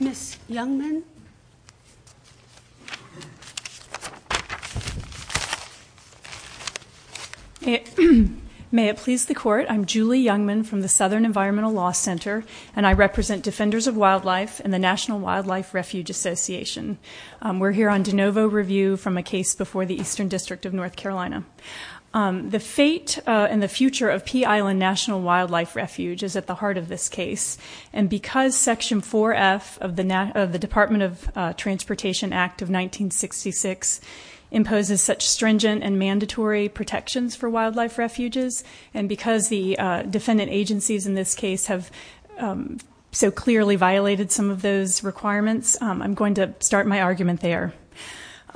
Ms. Youngman May it please the Court, I'm Julie Youngman from the Southern Environmental Law Center and I represent Defenders of Wildlife and the National Wildlife Refuge Association. We're here on de novo review from a case before the Eastern District of North Carolina. The fate and the future of Pea Island National Wildlife Refuge is at the heart of this case and because Section 4F of the Department of Transportation Act of 1966 imposes such stringent and mandatory protections for wildlife refuges and because the defendant agencies in this case have so clearly violated some of those requirements, I'm going to start my argument there.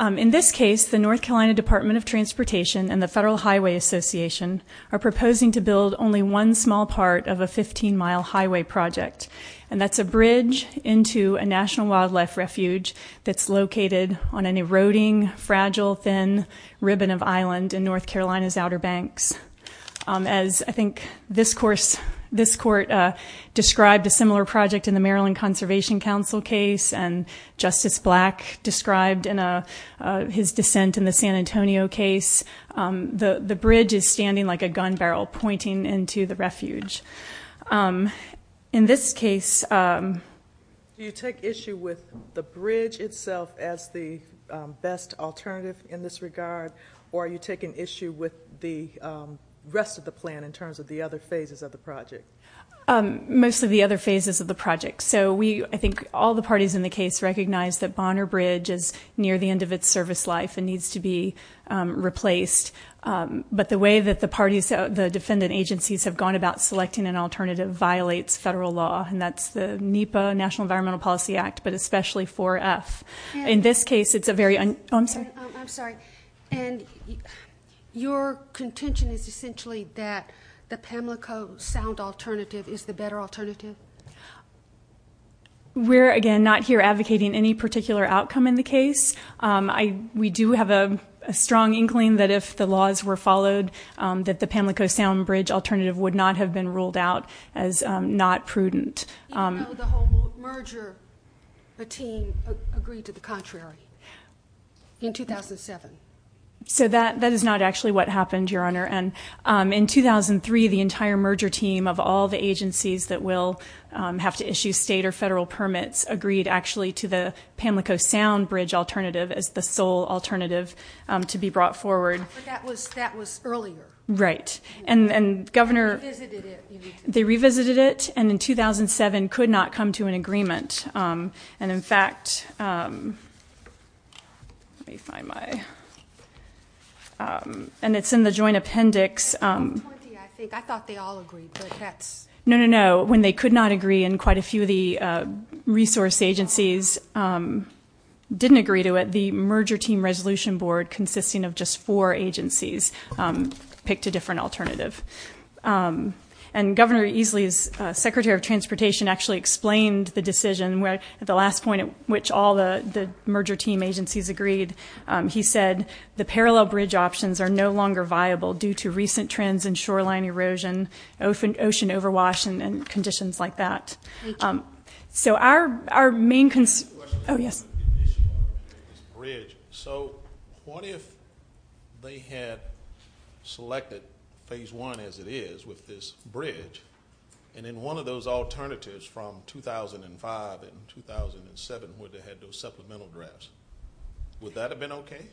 In this case, the North Carolina Department of Transportation and the Federal Highway Association are proposing to build only one small part of a 15-mile highway project and that's a bridge into a National Wildlife Refuge that's located on an eroding, fragile, thin ribbon of island in North Carolina's Outer Banks. As I think this Court described a similar project in the Maryland Conservation Council case and Justice Black described his dissent in the San Antonio case, the bridge is standing like a gun barrel pointing into the refuge. In this case... Do you take issue with the bridge itself as the best alternative in this regard or are you taking issue with the rest of the plan in terms of the other phases of the project? Most of the other phases of the project. So I think all the parties in the case recognize that Bonner Bridge is near the end of its service life and needs to be replaced. But the way that the parties, the defendant agencies, have gone about selecting an alternative violates federal law and that's the NEPA, National Environmental Policy Act, but especially 4F. In this case, it's a very... Oh, I'm sorry. I'm sorry. And your contention is essentially that the Pamlico Sound alternative is the better alternative? We're, again, not here advocating any particular outcome in the case. We do have a strong inkling that if the laws were followed, that the Pamlico Sound bridge alternative would not have been ruled out as not prudent. Even though the whole merger team agreed to the contrary in 2007? So that is not actually what happened, Your Honor. And in 2003, the entire merger team of all the agencies that will have to issue state or federal permits agreed actually to the Pamlico Sound bridge alternative as the sole alternative to be brought forward. But that was earlier. Right. And Governor... They revisited it. They revisited it, and in 2007 could not come to an agreement. And, in fact, let me find my... And it's in the joint appendix. I thought they all agreed, but that's... No, no, no. When they could not agree, and quite a few of the resource agencies didn't agree to it, the merger team resolution board, consisting of just four agencies, picked a different alternative. And Governor Easley's secretary of transportation actually explained the decision at the last point at which all the merger team agencies agreed. He said the parallel bridge options are no longer viable due to recent trends in shoreline erosion, ocean overwash, and conditions like that. Thank you. So our main concern... I have a question on the condition of this bridge. So what if they had selected phase one as it is with this bridge, and in one of those alternatives from 2005 and 2007 where they had those supplemental drafts, would that have been okay?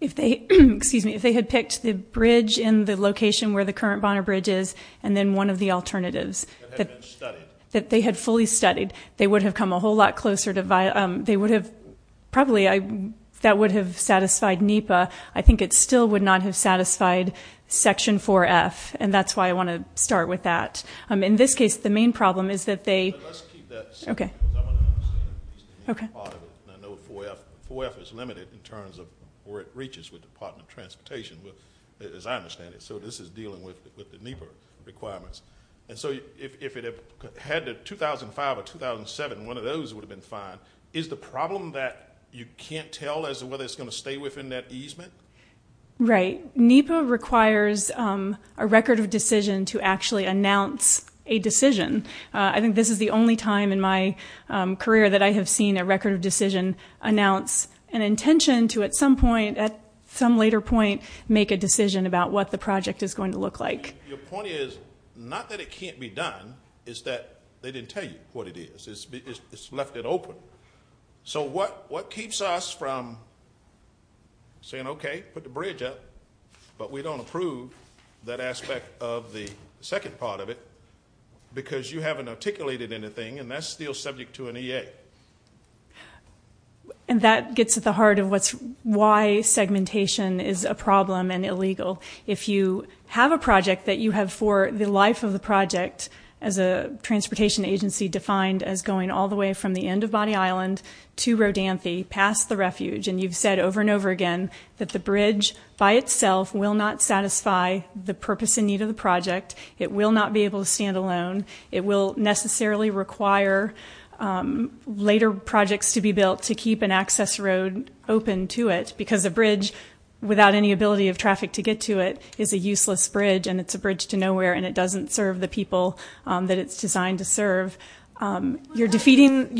Excuse me. If they had picked the bridge in the location where the current Bonner Bridge is and then one of the alternatives that they had fully studied, they would have come a whole lot closer to viable. They would have probably... That would have satisfied NEPA. I think it still would not have satisfied Section 4F, and that's why I want to start with that. In this case, the main problem is that they... Let's keep that simple. Okay. I know 4F is limited in terms of where it reaches with Department of Transportation, as I understand it. So this is dealing with the NEPA requirements. And so if it had the 2005 or 2007, one of those would have been fine. Is the problem that you can't tell as to whether it's going to stay within that easement? Right. NEPA requires a record of decision to actually announce a decision. I think this is the only time in my career that I have seen a record of decision announce an intention to, at some point, at some later point, make a decision about what the project is going to look like. Your point is not that it can't be done, it's that they didn't tell you what it is. It's left it open. So what keeps us from saying, okay, put the bridge up, but we don't approve that aspect of the second part of it because you haven't articulated anything, and that's still subject to an EA. And that gets at the heart of why segmentation is a problem and illegal. If you have a project that you have for the life of the project, as a transportation agency defined as going all the way from the end of Bonnie Island to Rodanthe, past the refuge, and you've said over and over again that the bridge by itself will not satisfy the purpose and need of the project. It will not be able to stand alone. It will necessarily require later projects to be built to keep an access road open to it because a bridge without any ability of traffic to get to it is a useless bridge, and it's a bridge to nowhere, and it doesn't serve the people that it's designed to serve. You're defeating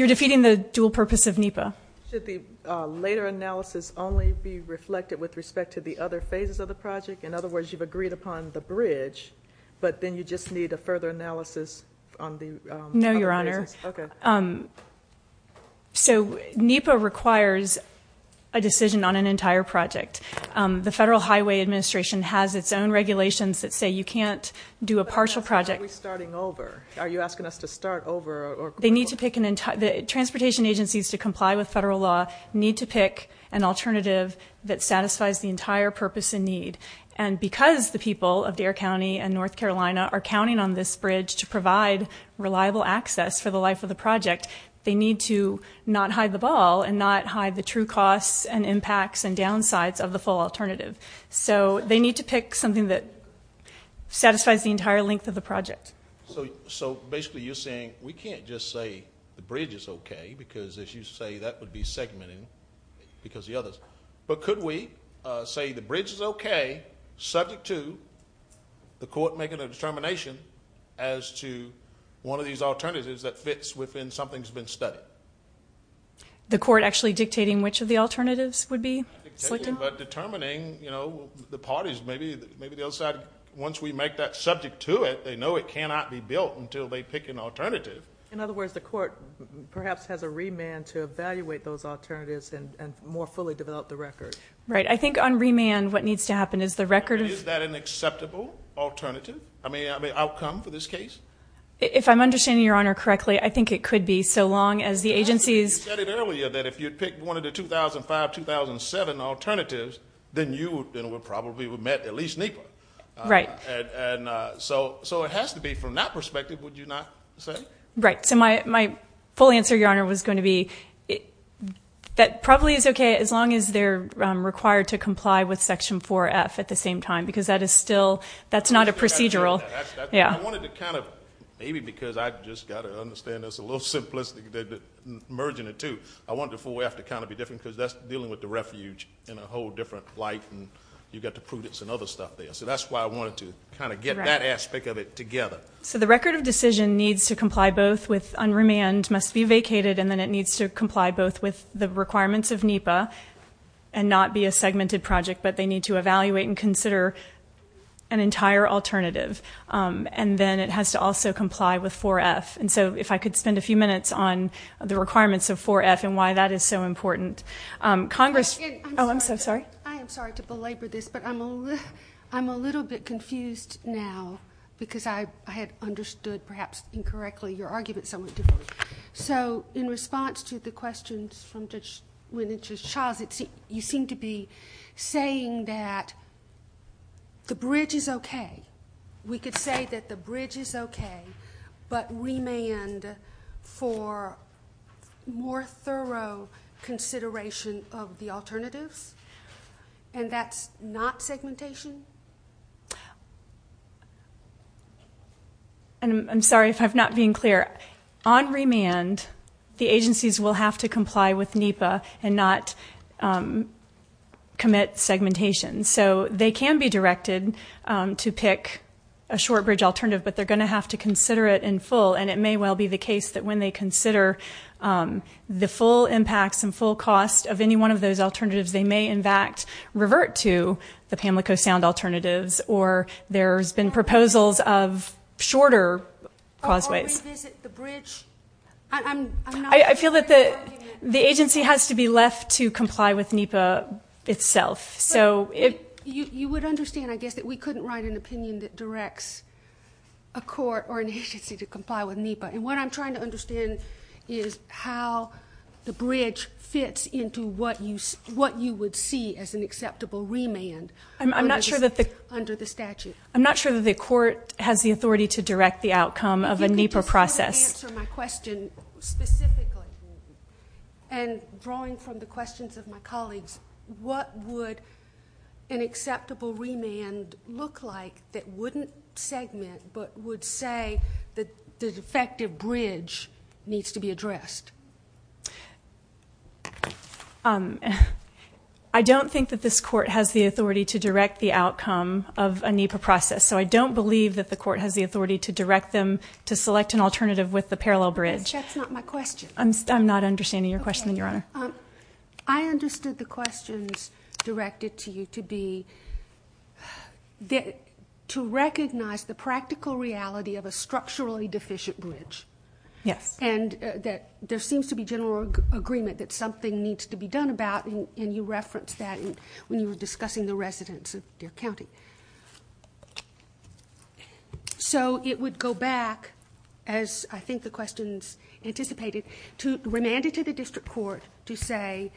the dual purpose of NEPA. Should the later analysis only be reflected with respect to the other phases of the project? In other words, you've agreed upon the bridge, but then you just need a further analysis on the other phases? No, Your Honor. Okay. So NEPA requires a decision on an entire project. The Federal Highway Administration has its own regulations that say you can't do a partial project. Are we starting over? Are you asking us to start over? The transportation agencies to comply with federal law need to pick an alternative that satisfies the entire purpose and need, and because the people of Dare County and North Carolina are counting on this bridge to provide reliable access for the life of the project, they need to not hide the ball and not hide the true costs and impacts and downsides of the full alternative. So they need to pick something that satisfies the entire length of the project. So basically you're saying we can't just say the bridge is okay because, as you say, that would be segmented because of the others. But could we say the bridge is okay, subject to the court making a determination as to one of these alternatives that fits within something that's been studied? The court actually dictating which of the alternatives would be? Not dictating, but determining, you know, the parties. Maybe the other side, once we make that subject to it, they know it cannot be built until they pick an alternative. In other words, the court perhaps has a remand to evaluate those alternatives and more fully develop the record. Right. I think on remand what needs to happen is the record of- Is that an acceptable alternative? I mean, outcome for this case? If I'm understanding Your Honor correctly, I think it could be so long as the agencies- You said it earlier that if you'd pick one of the 2005-2007 alternatives, then you would probably have met at least NEPA. Right. So it has to be from that perspective, would you not say? Right. So my full answer, Your Honor, was going to be that probably is okay as long as they're required to comply with Section 4F at the same time because that is still- that's not a procedural- I wanted to kind of- maybe because I've just got to understand there's a little simplicity merging the two. I want the 4F to kind of be different because that's dealing with the refuge in a whole different light, and you've got to prove it's another stuff there. So that's why I wanted to kind of get that aspect of it together. So the record of decision needs to comply both with unremand, must be vacated, and then it needs to comply both with the requirements of NEPA and not be a segmented project, but they need to evaluate and consider an entire alternative. And then it has to also comply with 4F. And so if I could spend a few minutes on the requirements of 4F and why that is so important. Congress- I'm sorry to belabor this, but I'm a little bit confused now because I had understood, perhaps incorrectly, your argument somewhat differently. So in response to the questions from Judge Winitch's child, you seem to be saying that the bridge is okay. We could say that the bridge is okay, but remand for more thorough consideration of the alternatives, and that's not segmentation? I'm sorry if I'm not being clear. On remand, the agencies will have to comply with NEPA and not commit segmentation. So they can be directed to pick a short bridge alternative, but they're going to have to consider it in full, and it may well be the case that when they consider the full impacts and full cost of any one of those alternatives, they may, in fact, revert to the Pamlico Sound alternatives or there's been proposals of shorter causeways. Or revisit the bridge? I feel that the agency has to be left to comply with NEPA itself. You would understand, I guess, that we couldn't write an opinion that directs a court or an agency to comply with NEPA. And what I'm trying to understand is how the bridge fits into what you would see as an acceptable remand under the statute. I'm not sure that the court has the authority to direct the outcome of a NEPA process. If you could just answer my question specifically, and drawing from the questions of my colleagues, what would an acceptable remand look like that wouldn't segment but would say that the effective bridge needs to be addressed? I don't think that this court has the authority to direct the outcome of a NEPA process, so I don't believe that the court has the authority to direct them to select an alternative with the parallel bridge. That's not my question. I'm not understanding your question, Your Honor. I understood the questions directed to you to be to recognize the practical reality of a structurally deficient bridge. Yes. And that there seems to be general agreement that something needs to be done about, and you referenced that when you were discussing the residents of Deer County. So it would go back, as I think the questions anticipated, to remand it to the district court to say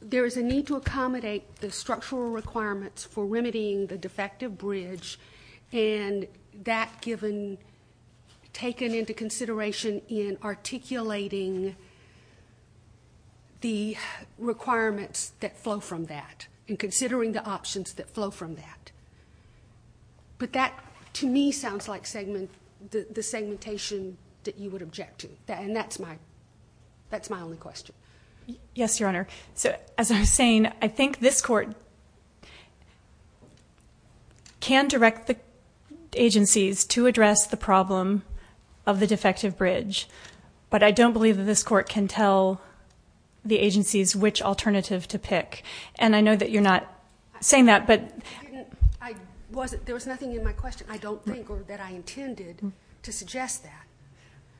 there is a need to accommodate the structural requirements for remedying the defective bridge and that given taken into consideration in articulating the requirements that flow from that and considering the options that flow from that. But that, to me, sounds like the segmentation that you would object to, and that's my only question. Yes, Your Honor. So, as I was saying, I think this court can direct the agencies to address the problem of the defective bridge, but I don't believe that this court can tell the agencies which alternative to pick. And I know that you're not saying that, but... There was nothing in my question, I don't think, or that I intended to suggest that.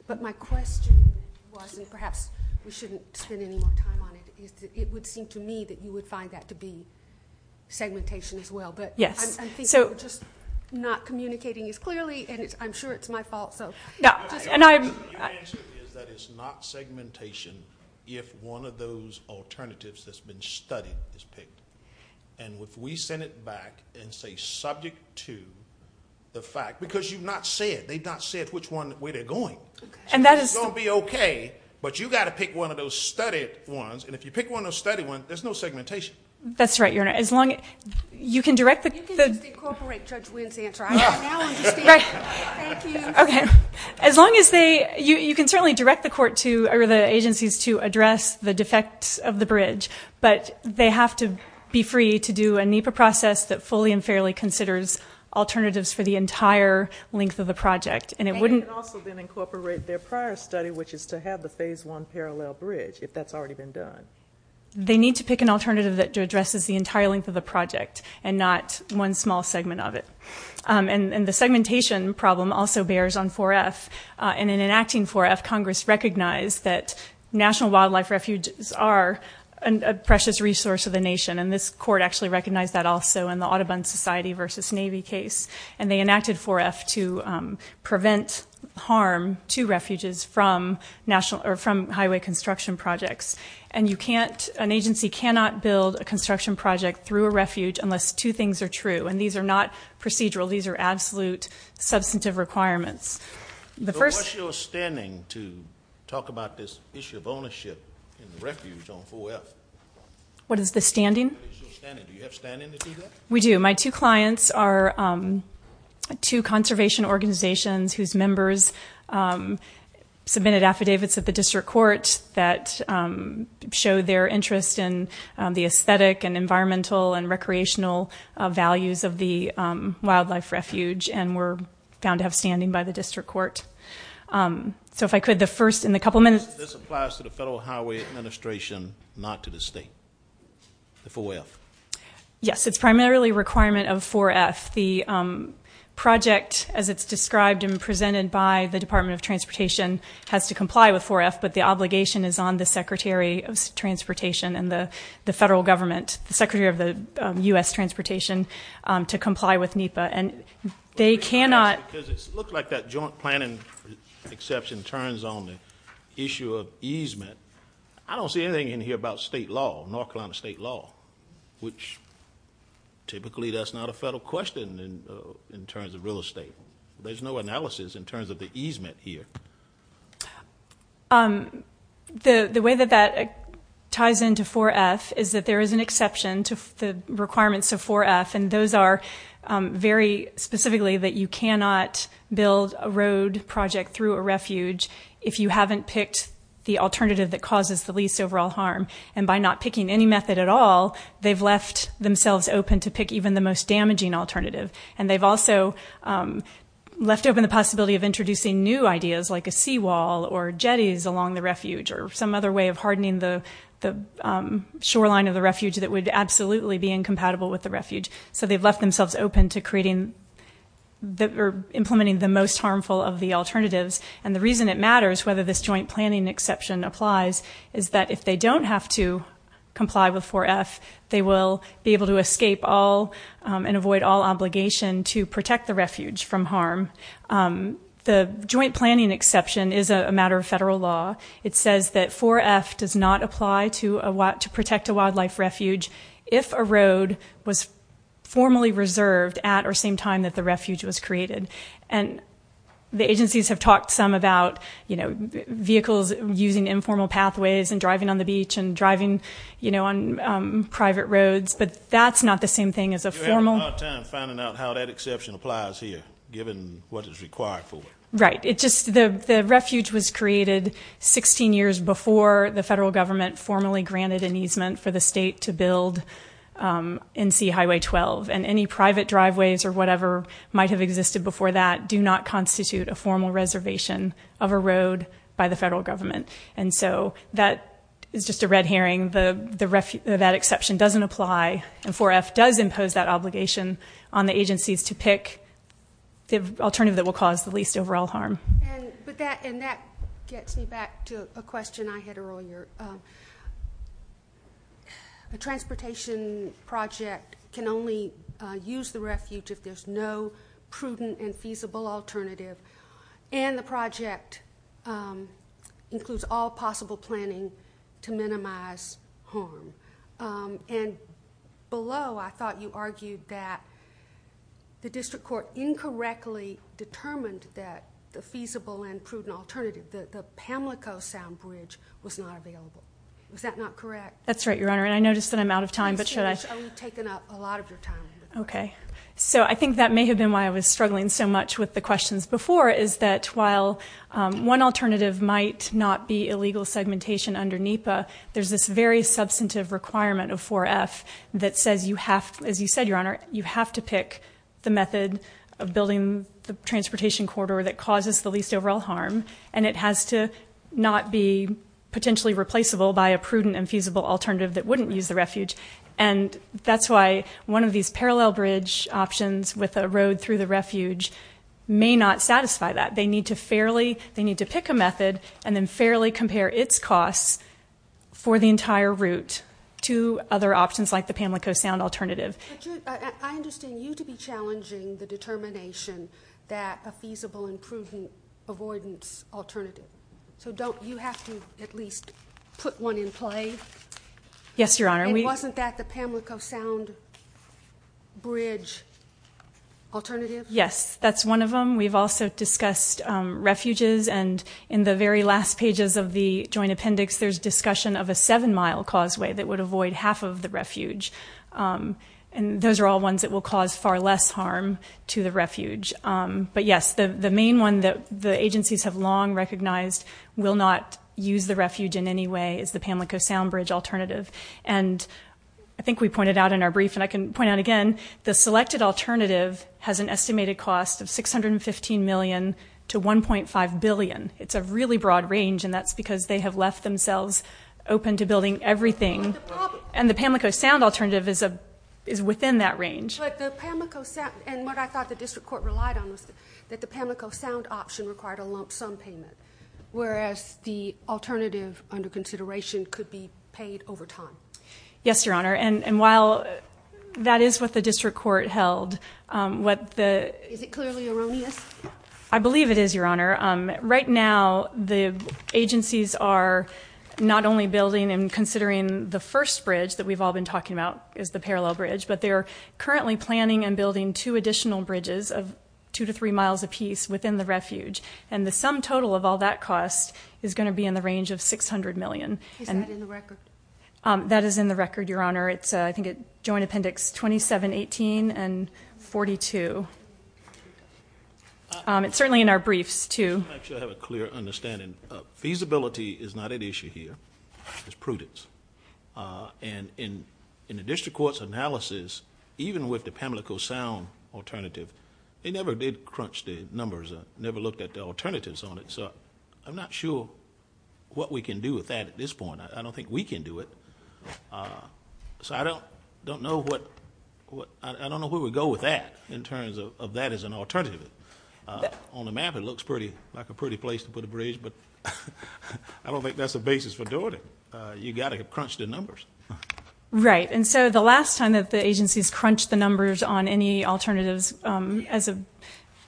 But my question was, and perhaps we shouldn't spend any more time on it, is that it would seem to me that you would find that to be segmentation as well. Yes. But I'm thinking you're just not communicating as clearly, and I'm sure it's my fault, so... Your answer is that it's not segmentation if one of those alternatives that's been studied is picked. And if we send it back and say subject to the fact, because you've not said, which one, where they're going. And that is... It's going to be okay, but you've got to pick one of those studied ones, and if you pick one of those studied ones, there's no segmentation. That's right, Your Honor. As long as... You can just incorporate Judge Wynn's answer. I now understand. Thank you. Okay. As long as they... You can certainly direct the agencies to address the defects of the bridge, but they have to be free to do a NEPA process that fully and fairly considers alternatives for the entire length of the project. And they can also then incorporate their prior study, which is to have the Phase I parallel bridge, if that's already been done. They need to pick an alternative that addresses the entire length of the project and not one small segment of it. And the segmentation problem also bears on 4F. And in enacting 4F, Congress recognized that national wildlife refuges are a precious resource of the nation, and this Court actually recognized that also in the Audubon Society v. Navy case. And they enacted 4F to prevent harm to refuges from highway construction projects. And an agency cannot build a construction project through a refuge unless two things are true, and these are not procedural. These are absolute substantive requirements. So what's your standing to talk about this issue of ownership in the refuge on 4F? What is the standing? What is your standing? Do you have standing to do that? We do. My two clients are two conservation organizations whose members submitted affidavits at the district court that show their interest in the aesthetic and environmental and recreational values of the wildlife refuge and were found to have standing by the district court. So if I could, the first in the couple minutes. This applies to the Federal Highway Administration, not to the state, the 4F? Yes. It's primarily a requirement of 4F. The project, as it's described and presented by the Department of Transportation, has to comply with 4F, but the obligation is on the Secretary of Transportation and the federal government, the Secretary of the U.S. Transportation, to comply with NEPA, and they cannot. Because it looks like that joint planning exception turns on the issue of easement. I don't see anything in here about state law, North Carolina state law, which typically that's not a federal question in terms of real estate. There's no analysis in terms of the easement here. The way that that ties into 4F is that there is an exception to the requirements of 4F, and those are very specifically that you cannot build a road project through a refuge if you haven't picked the alternative that causes the least overall harm. And by not picking any method at all, they've left themselves open to pick even the most damaging alternative. And they've also left open the possibility of introducing new ideas, like a seawall or jetties along the refuge or some other way of hardening the shoreline of the refuge that would absolutely be incompatible with the refuge. So they've left themselves open to implementing the most harmful of the alternatives. And the reason it matters whether this joint planning exception applies is that if they don't have to comply with 4F, they will be able to escape and avoid all obligation to protect the refuge from harm. The joint planning exception is a matter of federal law. It says that 4F does not apply to protect a wildlife refuge if a road was formally reserved at or same time that the refuge was created. And the agencies have talked some about vehicles using informal pathways and driving on the beach and driving on private roads. But that's not the same thing as a formal. You're having a hard time finding out how that exception applies here, given what is required for it. Right. The refuge was created 16 years before the federal government formally granted an easement for the state to build NC Highway 12. And any private driveways or whatever might have existed before that do not constitute a formal reservation of a road by the federal government. And so that is just a red herring. That exception doesn't apply. And 4F does impose that obligation on the agencies to pick the alternative that will cause the least overall harm. And that gets me back to a question I had earlier. A transportation project can only use the refuge if there's no prudent and feasible alternative. And the project includes all possible planning to minimize harm. And below, I thought you argued that the district court incorrectly determined that the feasible and prudent alternative, the Pamlico Sound Bridge, was not available. Was that not correct? That's right, Your Honor. And I notice that I'm out of time, but should I? You've taken up a lot of your time. Okay. So I think that may have been why I was struggling so much with the questions before, is that while one alternative might not be illegal segmentation under NEPA, there's this very substantive requirement of 4F that says, as you said, Your Honor, you have to pick the method of building the transportation corridor that causes the least overall harm. And it has to not be potentially replaceable by a prudent and feasible alternative that wouldn't use the refuge. And that's why one of these parallel bridge options with a road through the refuge may not satisfy that. They need to pick a method and then fairly compare its costs for the entire route to other options like the Pamlico Sound alternative. I understand you to be challenging the determination that a feasible and prudent avoidance alternative. So don't you have to at least put one in play? Yes, Your Honor. And wasn't that the Pamlico Sound bridge alternative? Yes. That's one of them. We've also discussed refuges. And in the very last pages of the joint appendix, there's discussion of a seven-mile causeway that would avoid half of the refuge. And those are all ones that will cause far less harm to the refuge. But, yes, the main one that the agencies have long recognized will not use the refuge in any way is the Pamlico Sound bridge alternative. And I think we pointed out in our brief, and I can point out again, the selected alternative has an estimated cost of $615 million to $1.5 billion. It's a really broad range, and that's because they have left themselves open to building everything. And the Pamlico Sound alternative is within that range. And what I thought the district court relied on was that the Pamlico Sound option required a lump sum payment, whereas the alternative under consideration could be paid over time. Yes, Your Honor. And while that is what the district court held. Is it clearly erroneous? I believe it is, Your Honor. Right now the agencies are not only building and considering the first bridge that we've all been talking about is the parallel bridge, but they are currently planning and building two additional bridges of two to three miles apiece within the refuge. And the sum total of all that cost is going to be in the range of $600 million. Is that in the record? That is in the record, Your Honor. It's, I think, Joint Appendix 2718 and 42. It's certainly in our briefs, too. Actually, I have a clear understanding. Feasibility is not at issue here. It's prudence. And in the district court's analysis, even with the Pamlico Sound alternative, they never did crunch the numbers, never looked at the alternatives on it. So I'm not sure what we can do with that at this point. I don't think we can do it. So I don't know where we go with that in terms of that as an alternative. On the map it looks like a pretty place to put a bridge, but I don't think that's the basis for doing it. You've got to crunch the numbers. Right. And so the last time that the agencies crunched the numbers on any alternatives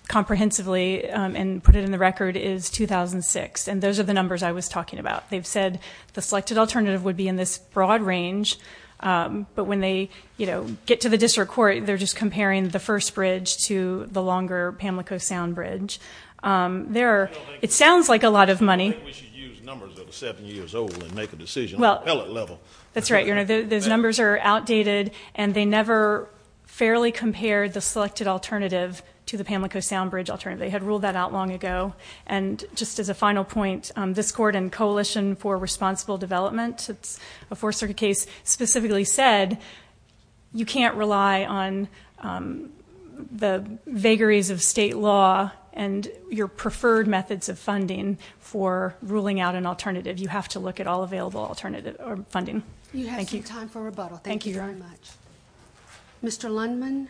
comprehensively and put it in the record is 2006. And those are the numbers I was talking about. They've said the selected alternative would be in this broad range, but when they get to the district court, they're just comparing the first bridge to the longer Pamlico Sound bridge. It sounds like a lot of money. I think we should use numbers that are seven years old and make a decision on the pellet level. That's right. Those numbers are outdated and they never fairly compared the selected alternative to the Pamlico Sound bridge alternative. They had ruled that out long ago. And just as a final point, this court and Coalition for Responsible Development, it's a fourth circuit case, specifically said you can't rely on the vagaries of state law and your ruling out an alternative. You have to look at all available alternative or funding. Thank you. Time for rebuttal. Thank you very much. Mr. Lundman.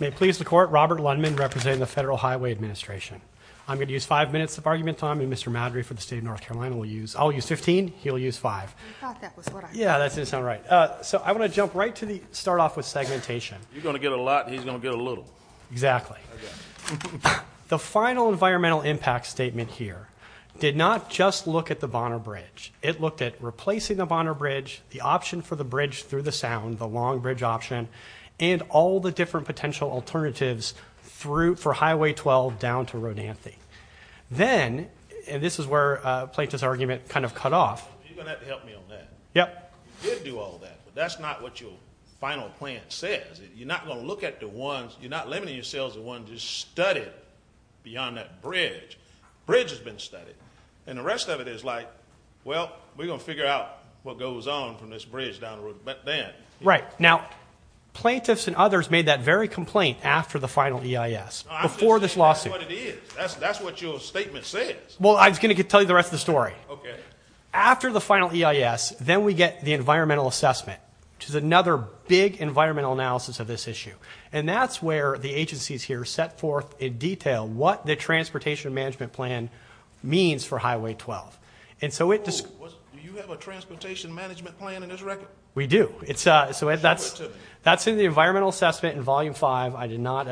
May please the court. Robert Lundman representing the federal highway administration. I'm going to use five minutes of argument on me. Mr. Madry for the state of North Carolina. We'll use, I'll use 15. He'll use five. Yeah, that's it. It's not right. So I want to jump right to the start off with segmentation. You're going to get a lot. He's going to get a little. Exactly. The final environmental impact statement here did not just look at the Bonner bridge. It looked at replacing the Bonner bridge, the option for the bridge through the sound, the long bridge option and all the different potential alternatives through for highway 12 down to Rodanthe. Then, and this is where a plaintiff's argument kind of cut off. Yep. You did do all that, but that's not what your final plan says. You're not going to look at the ones. You're not limiting yourselves. The one just studied beyond that bridge bridge has been studied. And the rest of it is like, well, we're going to figure out what goes on from this bridge down the road. But then right now, plaintiffs and others made that very complaint after the final EIS before this lawsuit. That's what your statement says. Well, I was going to tell you the rest of the story. Okay. After the final EIS, then we get the environmental assessment, which is another big environmental analysis of this issue. And that's where the agencies here set forth in detail what the transportation management plan means for highway 12. And so it just, do you have a transportation management plan in this record? We do. It's a, so that's, that's in the environmental assessment in volume five. I did not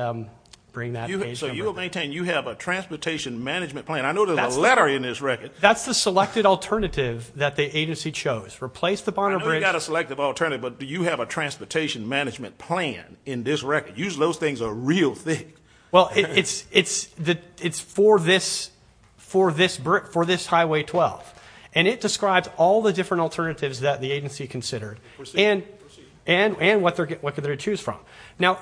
bring that. So you will maintain, you have a transportation management plan. I know there's a letter in this record. That's the selected alternative that the agency chose replaced the Bonner bridge. I got a selective alternative, but do you have a transportation management plan in this record? Use those things are real thick. Well, it's, it's, it's the, it's for this, for this Brit, for this highway 12. And it describes all the different alternatives that the agency considered and, and, and what they're getting, what could they choose from now?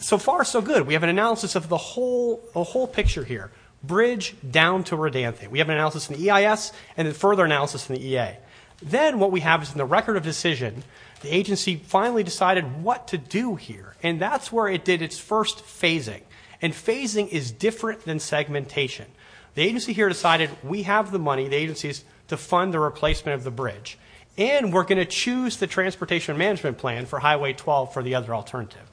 So far so good. We have an analysis of the whole, the whole picture here, bridge down to Redanthe. We have an analysis in the EIS and the further analysis in the EA. Then what we have is in the record of decision, the agency finally decided what to do here. And that's where it did its first phasing and phasing is different than segmentation. The agency here decided we have the money. The agency is to fund the replacement of the bridge, and we're going to choose the transportation management plan for highway 12 for the other alternative.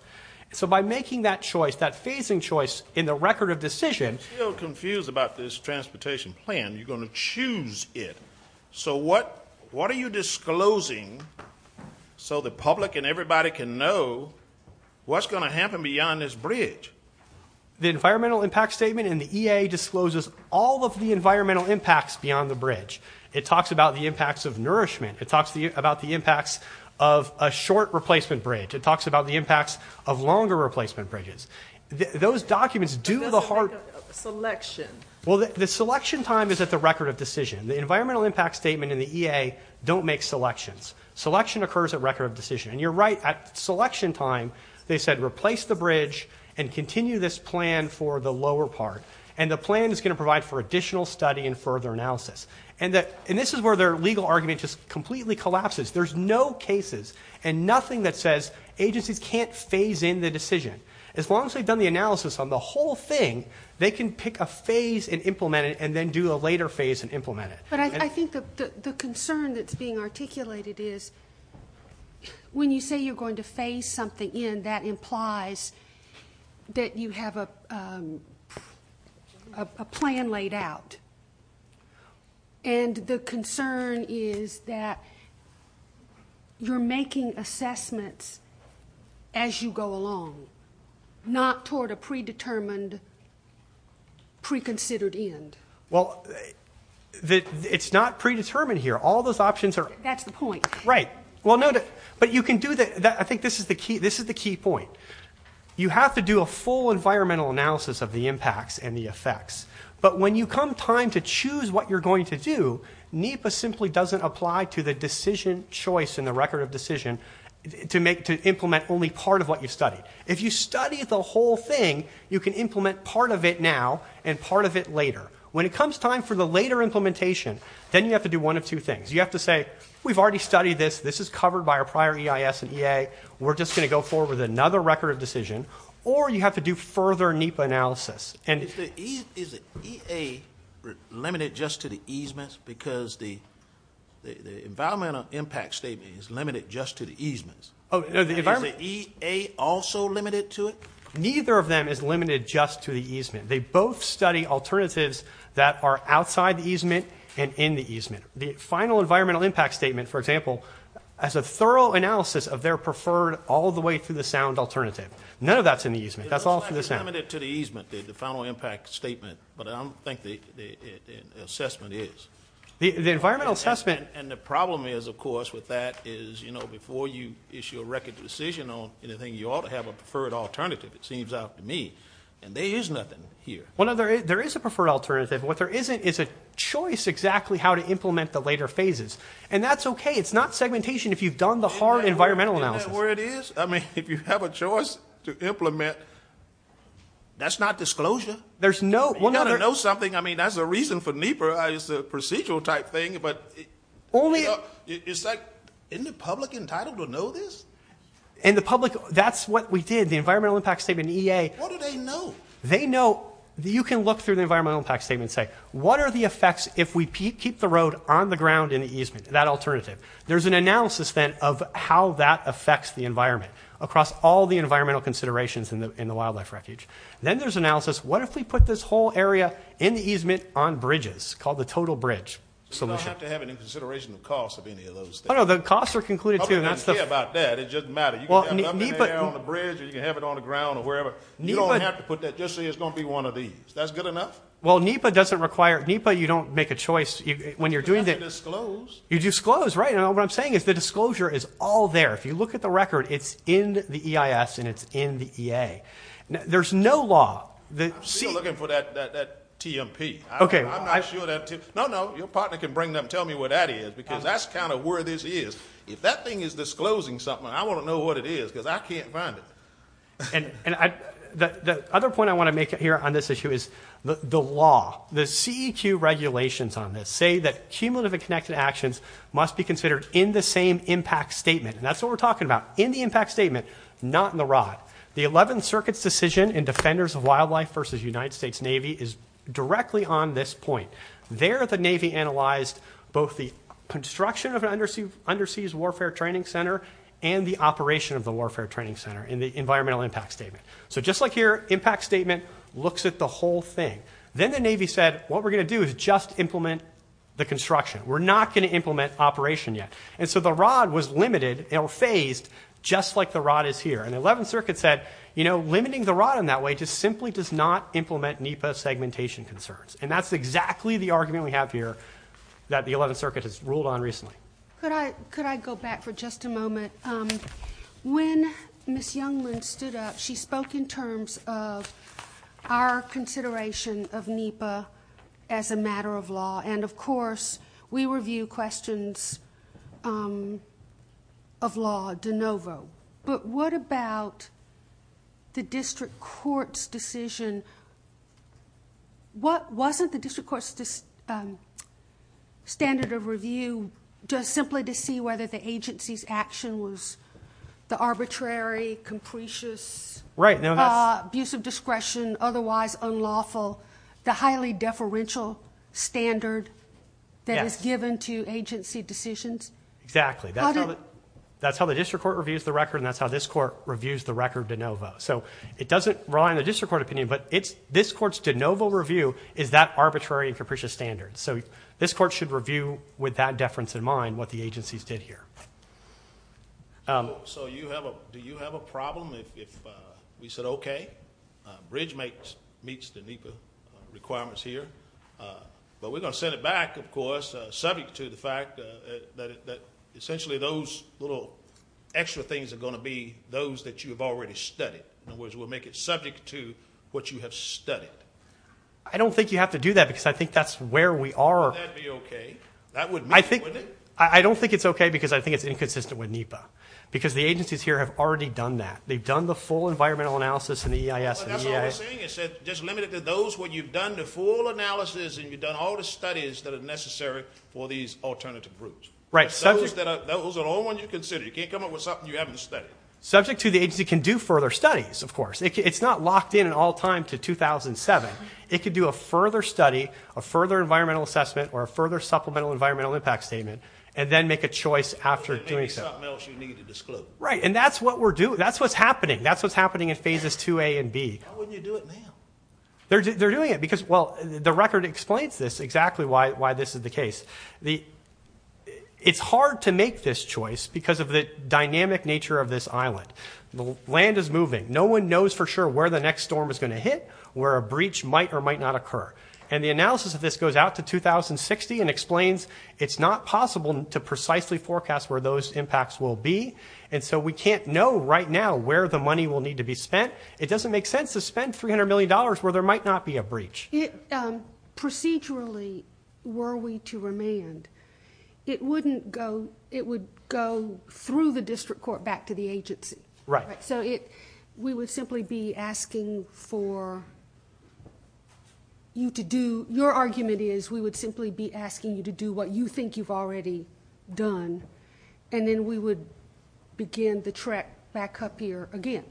So by making that choice, that phasing choice in the record of decision, Confused about this transportation plan. You're going to choose it. So what, what are you disclosing so the public and everybody can know what's going to happen beyond this bridge? The environmental impact statement in the EA discloses all of the environmental impacts beyond the bridge. It talks about the impacts of nourishment. It talks to you about the impacts of a short replacement bridge. It talks about the impacts of longer replacement bridges. Those documents do the hard selection. Well, the selection time is at the record of decision. The environmental impact statement in the EA don't make selections. Selection occurs at record of decision. And you're right at selection time. They said, replace the bridge and continue this plan for the lower part. And the plan is going to provide for additional study and further analysis. And that, and this is where their legal argument just completely collapses. There's no cases and nothing that says agencies can't phase in the decision. As long as they've done the analysis on the whole thing, they can pick a phase and implement it and then do a later phase and implement it. But I think the, the concern that's being articulated is when you say you're going to face something in, that implies that you have a, a plan laid out. And the concern is that you're making assessments as you go along. Not toward a predetermined pre-considered end. Well, it's not predetermined here. All those options are, that's the point, right? Well note it, but you can do that. I think this is the key. This is the key point. You have to do a full environmental analysis of the impacts and the effects. But when you come time to choose what you're going to do, to make, to implement only part of what you've studied. If you study the whole thing, you can implement part of it now and part of it later. When it comes time for the later implementation, then you have to do one of two things. You have to say, we've already studied this. This is covered by our prior EIS and EA. We're just going to go forward with another record of decision, or you have to do further NEPA analysis. Is the EA limited just to the easements? Because the, the environmental impact statement is limited just to the easements. Is the EA also limited to it? Neither of them is limited just to the easement. They both study alternatives that are outside the easement and in the easement. The final environmental impact statement, for example, as a thorough analysis of their preferred all the way through the sound alternative. None of that's in the easement. That's all for the sound. Limited to the easement, the final impact statement, but I don't think the assessment is. The environmental assessment. And the problem is of course, with that is, you know, before you issue a record decision on anything, you ought to have a preferred alternative. It seems out to me. And there is nothing here. One other, there is a preferred alternative. What there isn't is a choice exactly how to implement the later phases. And that's okay. It's not segmentation. If you've done the hard environmental analysis, where it is. I mean, if you have a choice to implement, that's not disclosure. There's no, we'll never know something. I mean, that's a reason for NEPA is a procedural type thing, but it's like in the public entitled to know this. And the public, that's what we did. The environmental impact statement, EA, what do they know? They know that you can look through the environmental impact statement. Say, what are the effects? If we keep the road on the ground in the easement, that alternative, there's an analysis then of how that affects the environment across all the environmental considerations in the, in the wildlife wreckage. Then there's analysis. What if we put this whole area in the easement on bridges called the total bridge. So we don't have to have any consideration of costs of any of those. Oh, no, the costs are concluded too. And that's the about that. It doesn't matter. You can have it on the ground or wherever. You don't have to put that. Just say, it's going to be one of these. That's good enough. Well, NEPA doesn't require NEPA. You don't make a choice when you're doing this. You disclose, right? And what I'm saying is the disclosure is all there. If you look at the record, it's in the EIS and it's in the EA. There's no law. The C looking for that, that, that TMP. Okay. No, no, your partner can bring them. Tell me what that is, because that's kind of where this is. If that thing is disclosing something, I want to know what it is. Cause I can't find it. And, and I, the other point I want to make it here on this issue is the, the law, the CEQ regulations on this say that cumulative and connected actions must be considered in the same impact statement. And that's what we're talking about in the impact statement, not in the rod, the 11th circuit's decision and defenders of wildlife versus United States Navy is directly on this point there. The Navy analyzed both the construction of an undersea, underseas warfare training center and the operation of the warfare training center in the environmental impact statement. So just like here, impact statement looks at the whole thing. Then the Navy said, what we're going to do is just implement the construction. We're not going to implement operation yet. And so the rod was limited or phased just like the rod is here. And the 11th circuit said, you know, limiting the rod in that way, just simply does not implement NEPA segmentation concerns. And that's exactly the argument we have here that the 11th circuit has ruled on recently. Could I, could I go back for just a moment? Um, when Ms. Youngman stood up, she spoke in terms of our consideration of NEPA as a matter of law. And of course we review questions, um, of law de novo, but what about the district court's decision? What wasn't the district court's, um, standard of review just simply to see whether the agency's action was the arbitrary, capricious, right. Now that's abusive discretion, otherwise unlawful, the highly deferential standard that is given to agency decisions. Exactly. That's how the district court reviews the record. And that's how this court reviews the record de novo. So it doesn't rely on the district court opinion, but it's this court's de novo review is that arbitrary and capricious standards. So this court should review with that deference in mind, what the agencies did here. Um, so you have a, do you have a problem if, if, uh, we said, okay, uh, bridge makes, meets the NEPA requirements here. Uh, but we're going to send it back. Of course, but we're going to make it subject to the fact that, that essentially those little extra things are going to be those that you have already studied. In other words, we'll make it subject to what you have studied. I don't think you have to do that because I think that's where we are. That'd be okay. That would, I think, I don't think it's okay because I think it's inconsistent with NEPA because the agencies here have already done that. They've done the full environmental analysis and the EIS. It said just limited to those, what you've done, the full analysis and you've done all the studies that are necessary for these alternative groups. Right. So those are the only ones you consider. You can't come up with something you haven't studied. Subject to the agency can do further studies. Of course, it's not locked in at all time to 2007. It could do a further study, a further environmental assessment or a further supplemental environmental impact statement, and then make a choice after doing something else you need to disclose. Right. And that's what we're doing. That's what's happening. That's what's happening in phases two, a and B. How would you do it now? They're doing it because, well, the record explains this exactly why, why this is the case. The it's hard to make this choice because of the dynamic nature of this island. The land is moving. No one knows for sure where the next storm is going to hit, where a breach might or might not occur. And the analysis of this goes out to 2060 and explains. It's not possible to precisely forecast where those impacts will be. And so we can't know right now where the money will need to be spent. It doesn't make sense to spend $300 million where there might not be a breach. Procedurally. Were we to remand, it wouldn't go, it would go through the district court back to the agency. Right. So it, we would simply be asking for you to do. Your argument is we would simply be asking you to do what you think you've already done. And then we would begin the track back up here again.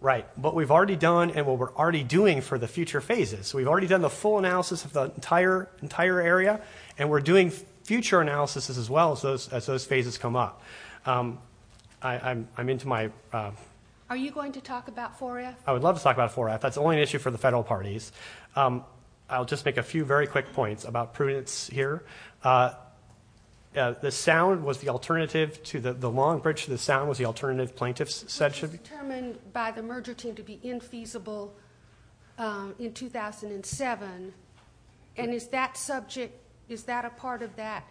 Right. But we've already done and what we're already doing for the future phases. So we've already done the full analysis of the entire, entire area and we're doing future analysis as well as those, as those phases come up. I I'm, I'm into my, are you going to talk about for you? I would love to talk about four F that's the only issue for the federal parties. I'll just make a few very quick points about prudence here. The sound was the alternative to the long bridge. The sound was the alternative plaintiffs said should be determined by the merger team to be infeasible. In 2007. And is that subject? Is that a part of that?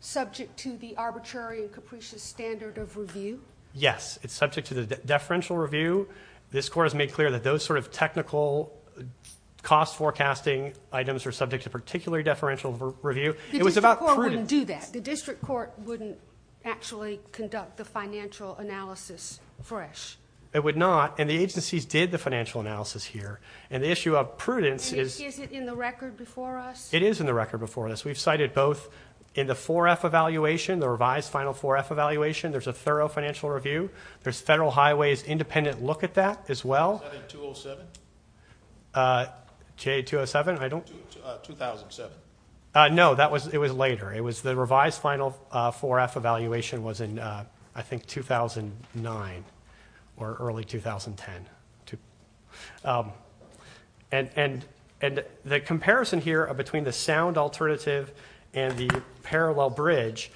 Subject to the arbitrary and capricious standard of review. Yes. It's subject to the deferential review. This court has made clear that those sort of technical. Cost forecasting items are subject to particularly deferential review. It was about. Do that. The district court wouldn't actually conduct the financial analysis. Fresh. It would not. And the agencies did the financial analysis here and the issue of prudence is in the record before us. It is in the record before this. We've cited both. In the four F evaluation, the revised final four F evaluation. There's a thorough financial review. There's federal highways, independent look at that as well. 207. J 207. I don't. 2007. No, that was, it was later. It was the revised final four F evaluation was in. I think 2009. Or early 2010. To. And, and, and the comparison here are between the sound alternative and the parallel bridge.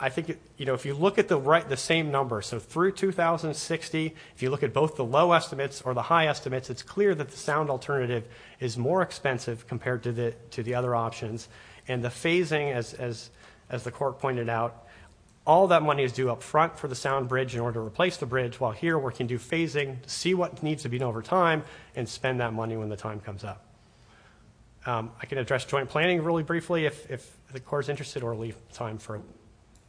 I think, you know, if you look at the right, the same number. So through 2060, if you look at both the low estimates or the high estimates, it's clear that the sound alternative is more expensive compared to the, to the other options. And the phasing, as, as, as the court pointed out, all that money is due up front for the sound bridge in order to replace the bridge while here we're can do phasing, see what needs to be done over time and spend that money when the time comes up. I can address joint planning really briefly. If, if the core is interested or leave time for.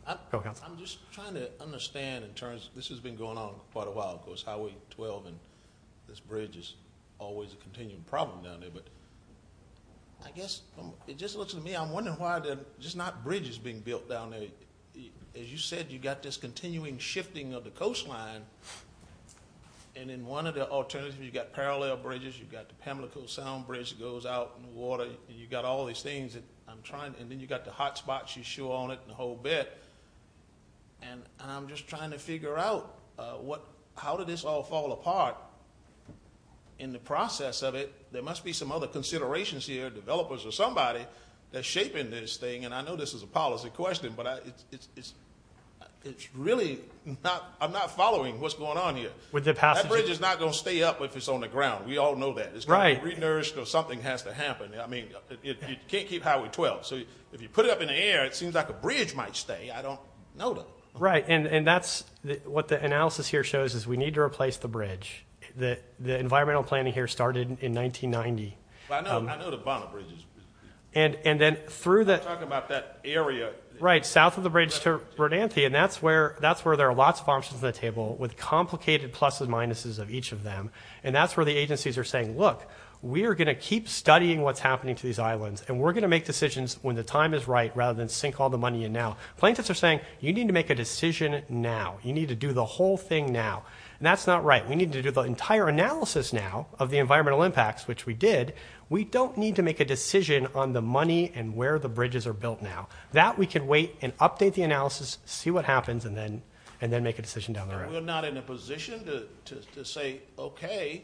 I'm just trying to understand in terms of this has been going on quite a while. It goes highway 12. And this bridge is always a continuing problem down there, but. I guess it just looks to me. I'm wondering why they're just not bridges being built down there. As you said, you got this continuing shifting of the coastline and in one of the alternatives, you've got parallel bridges. You've got the Pamlico sound bridge goes out water. You've got all these things that I'm trying. And then you've got the hotspots. You show on it and the whole bit. And I'm just trying to figure out what, how did this all fall apart in the process of it? There must be some other considerations here, developers or somebody that's shaping this thing. And I know this is a policy question, but I it's, it's really not. I'm not following what's going on here with the past. It's not going to stay up. If it's on the ground, we all know that it's right. Renourished or something has to happen. I mean, you can't keep highway 12. So if you put it up in the air, it seems like a bridge might stay. I don't know. Right. And that's what the analysis here shows is we need to replace the bridge. The environmental planning here started in 1990. I know, I know the bonnet bridges and, and then through the talk about that area, right? South of the bridge to Bernanke. And that's where, that's where there are lots of options on the table with complicated pluses, minuses of each of them. And that's where the agencies are saying, look, we are going to keep studying what's happening to these islands. And we're going to make decisions when the time is right, rather than sink all the money. And now plaintiffs are saying, you need to make a decision. Now you need to do the whole thing now. And that's not right. We need to do the entire analysis now of the environmental impacts, which we did. We don't need to make a decision on the money and where the bridges are built. Now that we can wait and update the analysis, see what happens. And then, and then make a decision down the road. We're not in a position to say, okay,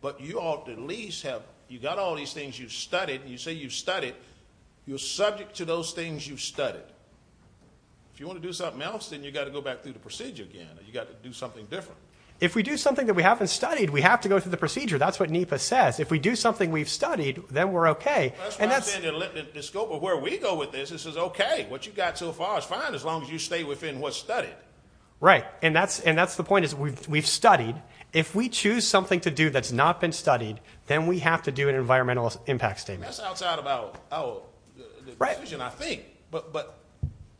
but you ought to at least have, you got all these things you've studied and you say you've studied. You're subject to those things you've studied. If you want to do something else, then you got to go back through the procedure again, you got to do something different. If we do something that we haven't studied, we have to go through the procedure. That's what NEPA says. If we do something, we've studied, then we're okay. And that's the scope of where we go with this. This is okay. What you've got so far is fine. As long as you stay within what's studied. Right. And that's, and that's the point is we've, we've studied. If we choose something to do, that's not been studied, then we have to do an environmental impact statements outside about. Oh, right. And I think, but, but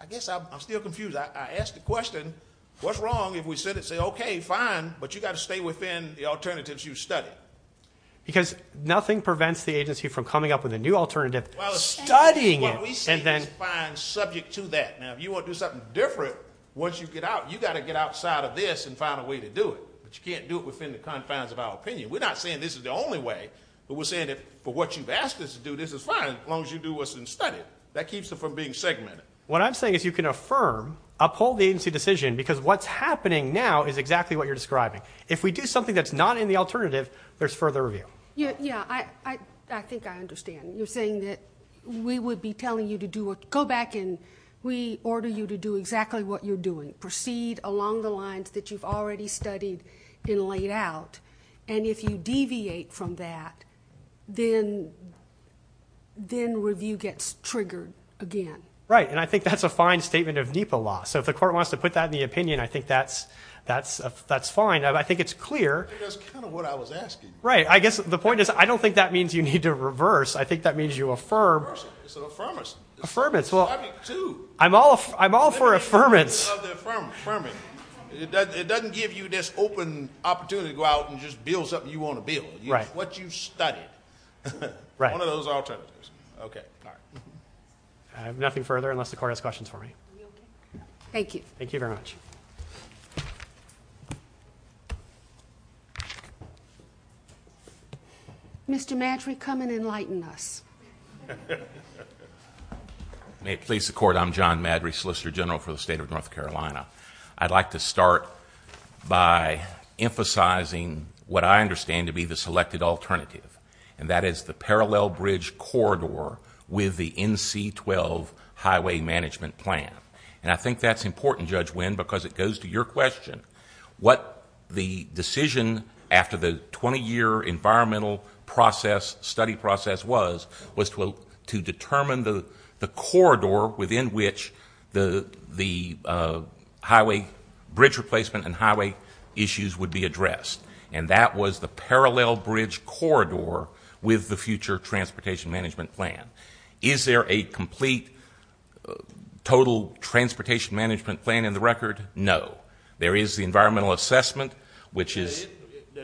I guess I'm still confused. I asked the question. What's wrong? If we said it, say, okay, fine, but you got to stay within the alternatives you've studied. Because nothing prevents the agency from coming up with a new alternative. Studying it. What we see is fine subject to that. Now, if you want to do something different, once you get out, you got to get outside of this and find a way to do it. But you can't do it within the confines of our opinion. We're not saying this is the only way, but we're saying that for what you've asked us to do, this is fine as long as you do what's been studied. That keeps it from being segmented. What I'm saying is you can affirm, you can uphold the agency decision, because what's happening now is exactly what you're describing. If we do something that's not in the alternative, there's further review. Yeah, yeah, I, I, I think I understand. You're saying that we would be telling you to do what, go back and we order you to do exactly what you're doing. Proceed along the lines that you've already studied and laid out. And if you deviate from that, then, then review gets triggered again. Right. Right. And I think that's a fine statement of NEPA law. So if the court wants to put that in the opinion, I think that's, that's, that's fine. I think it's clear. That's kind of what I was asking. Right. I guess the point is, I don't think that means you need to reverse. I think that means you affirm. Affirmation. Affirmation. Affirmation. Well, I'm all, I'm all for affirmation. Affirmation. It doesn't give you this open opportunity to go out and just build something you want to build. Right. What you've studied. Right. One of those alternatives. Okay. All right. I have nothing further unless the court has questions for me. Thank you. Thank you very much. Mr. Madry, come and enlighten us. May it please the court. I'm John Madry, Solicitor General for the state of North Carolina. I'd like to start by emphasizing what I understand to be the selected alternative, and that is the parallel bridge corridor with the NC-12 highway management plan. And I think that's important, Judge Winn, because it goes to your question. What the decision after the 20-year environmental process, study process was, was to determine the corridor within which the highway bridge replacement and highway issues would be addressed. And that was the parallel bridge corridor with the future transportation management plan. Is there a complete total transportation management plan in the record? No. There is the environmental assessment, which is.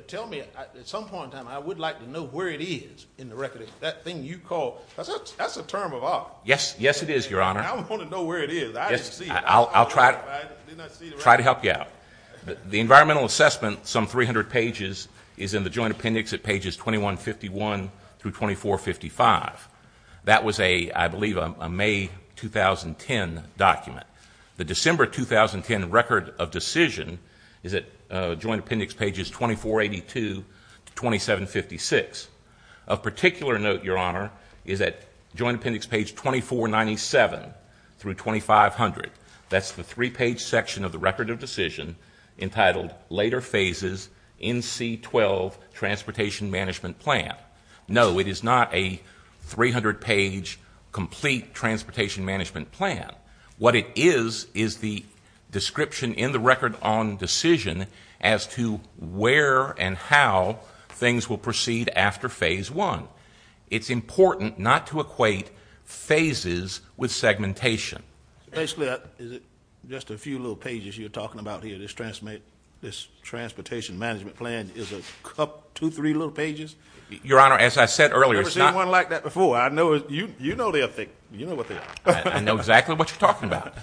Tell me, at some point in time, I would like to know where it is in the record. That thing you call. That's a term of art. Yes. Yes, it is, Your Honor. I want to know where it is. I didn't see it. I'll try to help you out. The environmental assessment, some 300 pages, is in the joint appendix at pages 2151 through 2455. That was a, I believe, a May 2010 document. The December 2010 record of decision is at joint appendix pages 2482 to 2756. Of particular note, Your Honor, is at joint appendix page 2497 through 2500. That's the three-page section of the record of decision entitled, Later Phases, NC-12 Transportation Management Plan. No, it is not a 300-page complete transportation management plan. What it is is the description in the record on decision as to where and how things will proceed after phase one. It's important not to equate phases with segmentation. Basically, is it just a few little pages you're talking about here? This transportation management plan is a couple, two, three little pages? Your Honor, as I said earlier, it's not. I've never seen one like that before. You know their thing. You know what they are. I know exactly what you're talking about.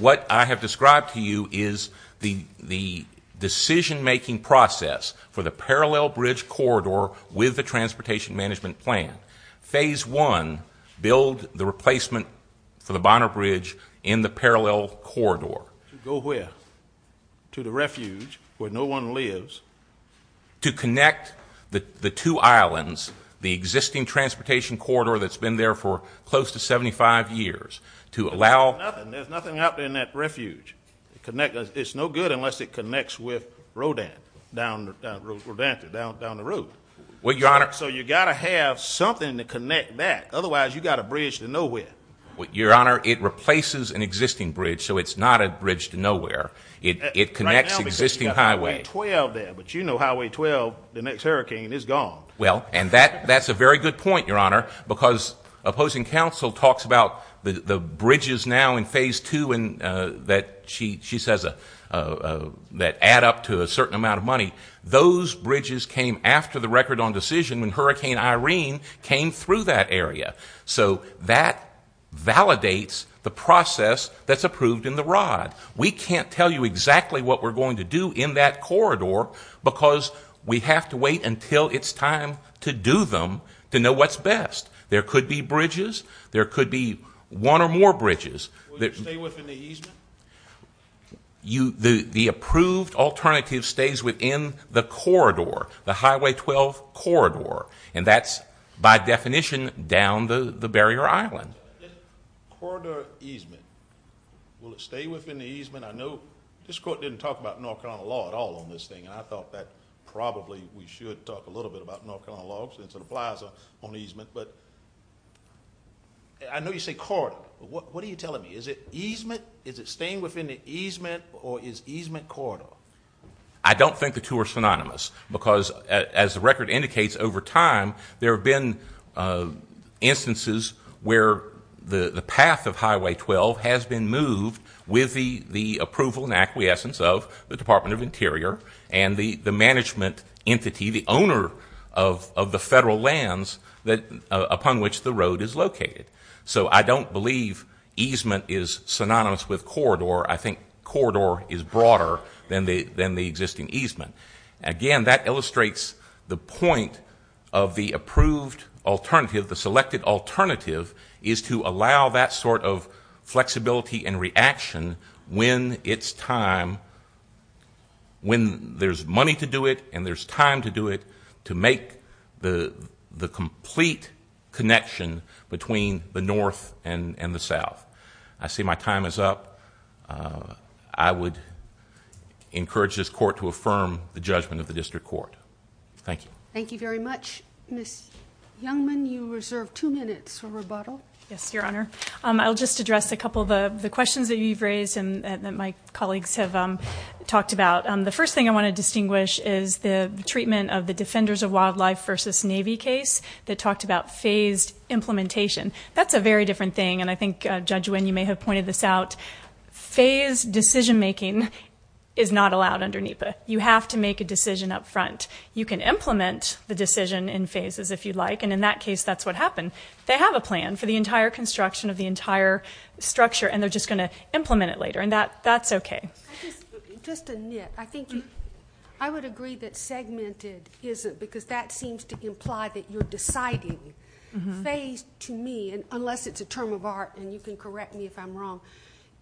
What I have described to you is the decision-making process for the parallel bridge corridor with the transportation management plan. Phase one, build the replacement for the Bonner Bridge in the parallel corridor. To go where? To the refuge where no one lives. To connect the two islands, the existing transportation corridor that's been there for close to 75 years. There's nothing out there in that refuge. It's no good unless it connects with Rodan, down the road. So you've got to have something to connect that. Otherwise, you've got a bridge to nowhere. Your Honor, it replaces an existing bridge, so it's not a bridge to nowhere. It connects existing highway. Highway 12 there, but you know Highway 12, the next hurricane is gone. Well, and that's a very good point, Your Honor, because opposing counsel talks about the bridges now in phase two that she says add up to a certain amount of money. Those bridges came after the record on decision when Hurricane Irene came through that area. So that validates the process that's approved in the rod. We can't tell you exactly what we're going to do in that corridor because we have to wait until it's time to do them to know what's best. There could be bridges. There could be one or more bridges. Will you stay within the easement? The approved alternative stays within the corridor, the Highway 12 corridor, and that's by definition down the barrier island. Corridor easement, will it stay within the easement? I know this Court didn't talk about North Carolina law at all on this thing, and I thought that probably we should talk a little bit about North Carolina law because it applies on easement, but I know you say corridor, but what are you telling me? Is it easement, is it staying within the easement, or is easement corridor? I don't think the two are synonymous because, as the record indicates, over time there have been instances where the path of Highway 12 has been moved with the approval and acquiescence of the Department of Interior and the management entity, the owner of the federal lands upon which the road is located. So I don't believe easement is synonymous with corridor. I think corridor is broader than the existing easement. Again, that illustrates the point of the approved alternative, the selected alternative, is to allow that sort of flexibility and reaction when it's time, when there's money to do it and there's time to do it, to make the complete connection between the north and the south. I see my time is up. I would encourage this court to affirm the judgment of the district court. Thank you. Thank you very much. Ms. Youngman, you reserve two minutes for rebuttal. Yes, Your Honor. I'll just address a couple of the questions that you've raised and that my colleagues have talked about. The first thing I want to distinguish is the treatment of the Defenders of Wildlife versus Navy case that talked about phased implementation. That's a very different thing, and I think, Judge Nguyen, you may have pointed this out. Phased decision-making is not allowed under NEPA. You have to make a decision up front. You can implement the decision in phases if you'd like, and in that case, that's what happened. They have a plan for the entire construction of the entire structure, and they're just going to implement it later, and that's okay. Just to nip, I think I would agree that segmented isn't because that seems to imply that you're deciding phase to me, unless it's a term of art and you can correct me if I'm wrong.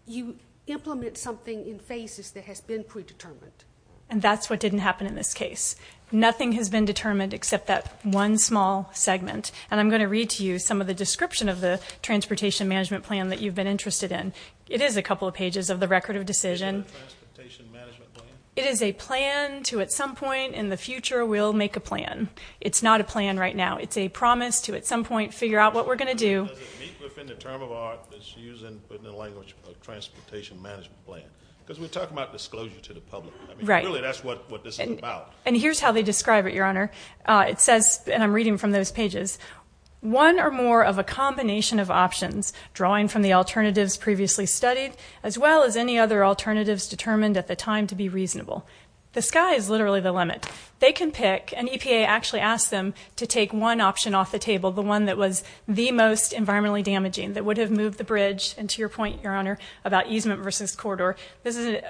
You implement something in phases that has been predetermined. And that's what didn't happen in this case. Nothing has been determined except that one small segment, and I'm going to read to you some of the description of the transportation management plan that you've been interested in. It is a couple of pages of the record of decision. Is that a transportation management plan? It is a plan to at some point in the future we'll make a plan. It's not a plan right now. It's a promise to at some point figure out what we're going to do. Does it meet within the term of art that's used in the language of transportation management plan? Because we're talking about disclosure to the public. Right. Really, that's what this is about. And here's how they describe it, Your Honor. It says, and I'm reading from those pages, one or more of a combination of options, drawing from the alternatives previously studied, as well as any other alternatives determined at the time to be reasonable. The sky is literally the limit. They can pick, and EPA actually asked them to take one option off the table, the one that was the most environmentally damaging, that would have moved the bridge. And to your point, Your Honor, about easement versus corridor, this is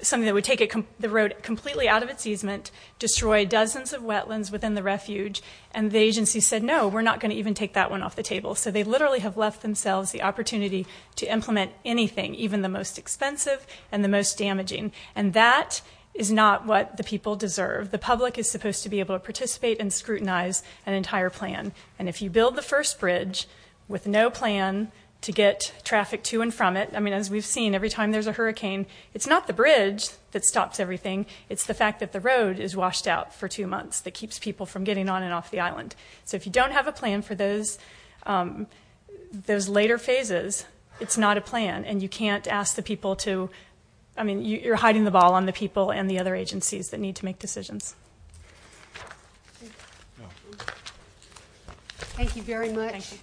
something that would take the road completely out of its easement, destroy dozens of wetlands within the refuge, and the agency said, no, we're not going to even take that one off the table. So they literally have left themselves the opportunity to implement anything, even the most expensive and the most damaging. And that is not what the people deserve. The public is supposed to be able to participate and scrutinize an entire plan. And if you build the first bridge with no plan to get traffic to and from it, I mean, as we've seen, every time there's a hurricane, it's not the bridge that stops everything. It's the fact that the road is washed out for two months that keeps people from getting on and off the island. So if you don't have a plan for those later phases, it's not a plan, and you can't ask the people to – I mean, you're hiding the ball on the people and the other agencies that need to make decisions. Thank you very much.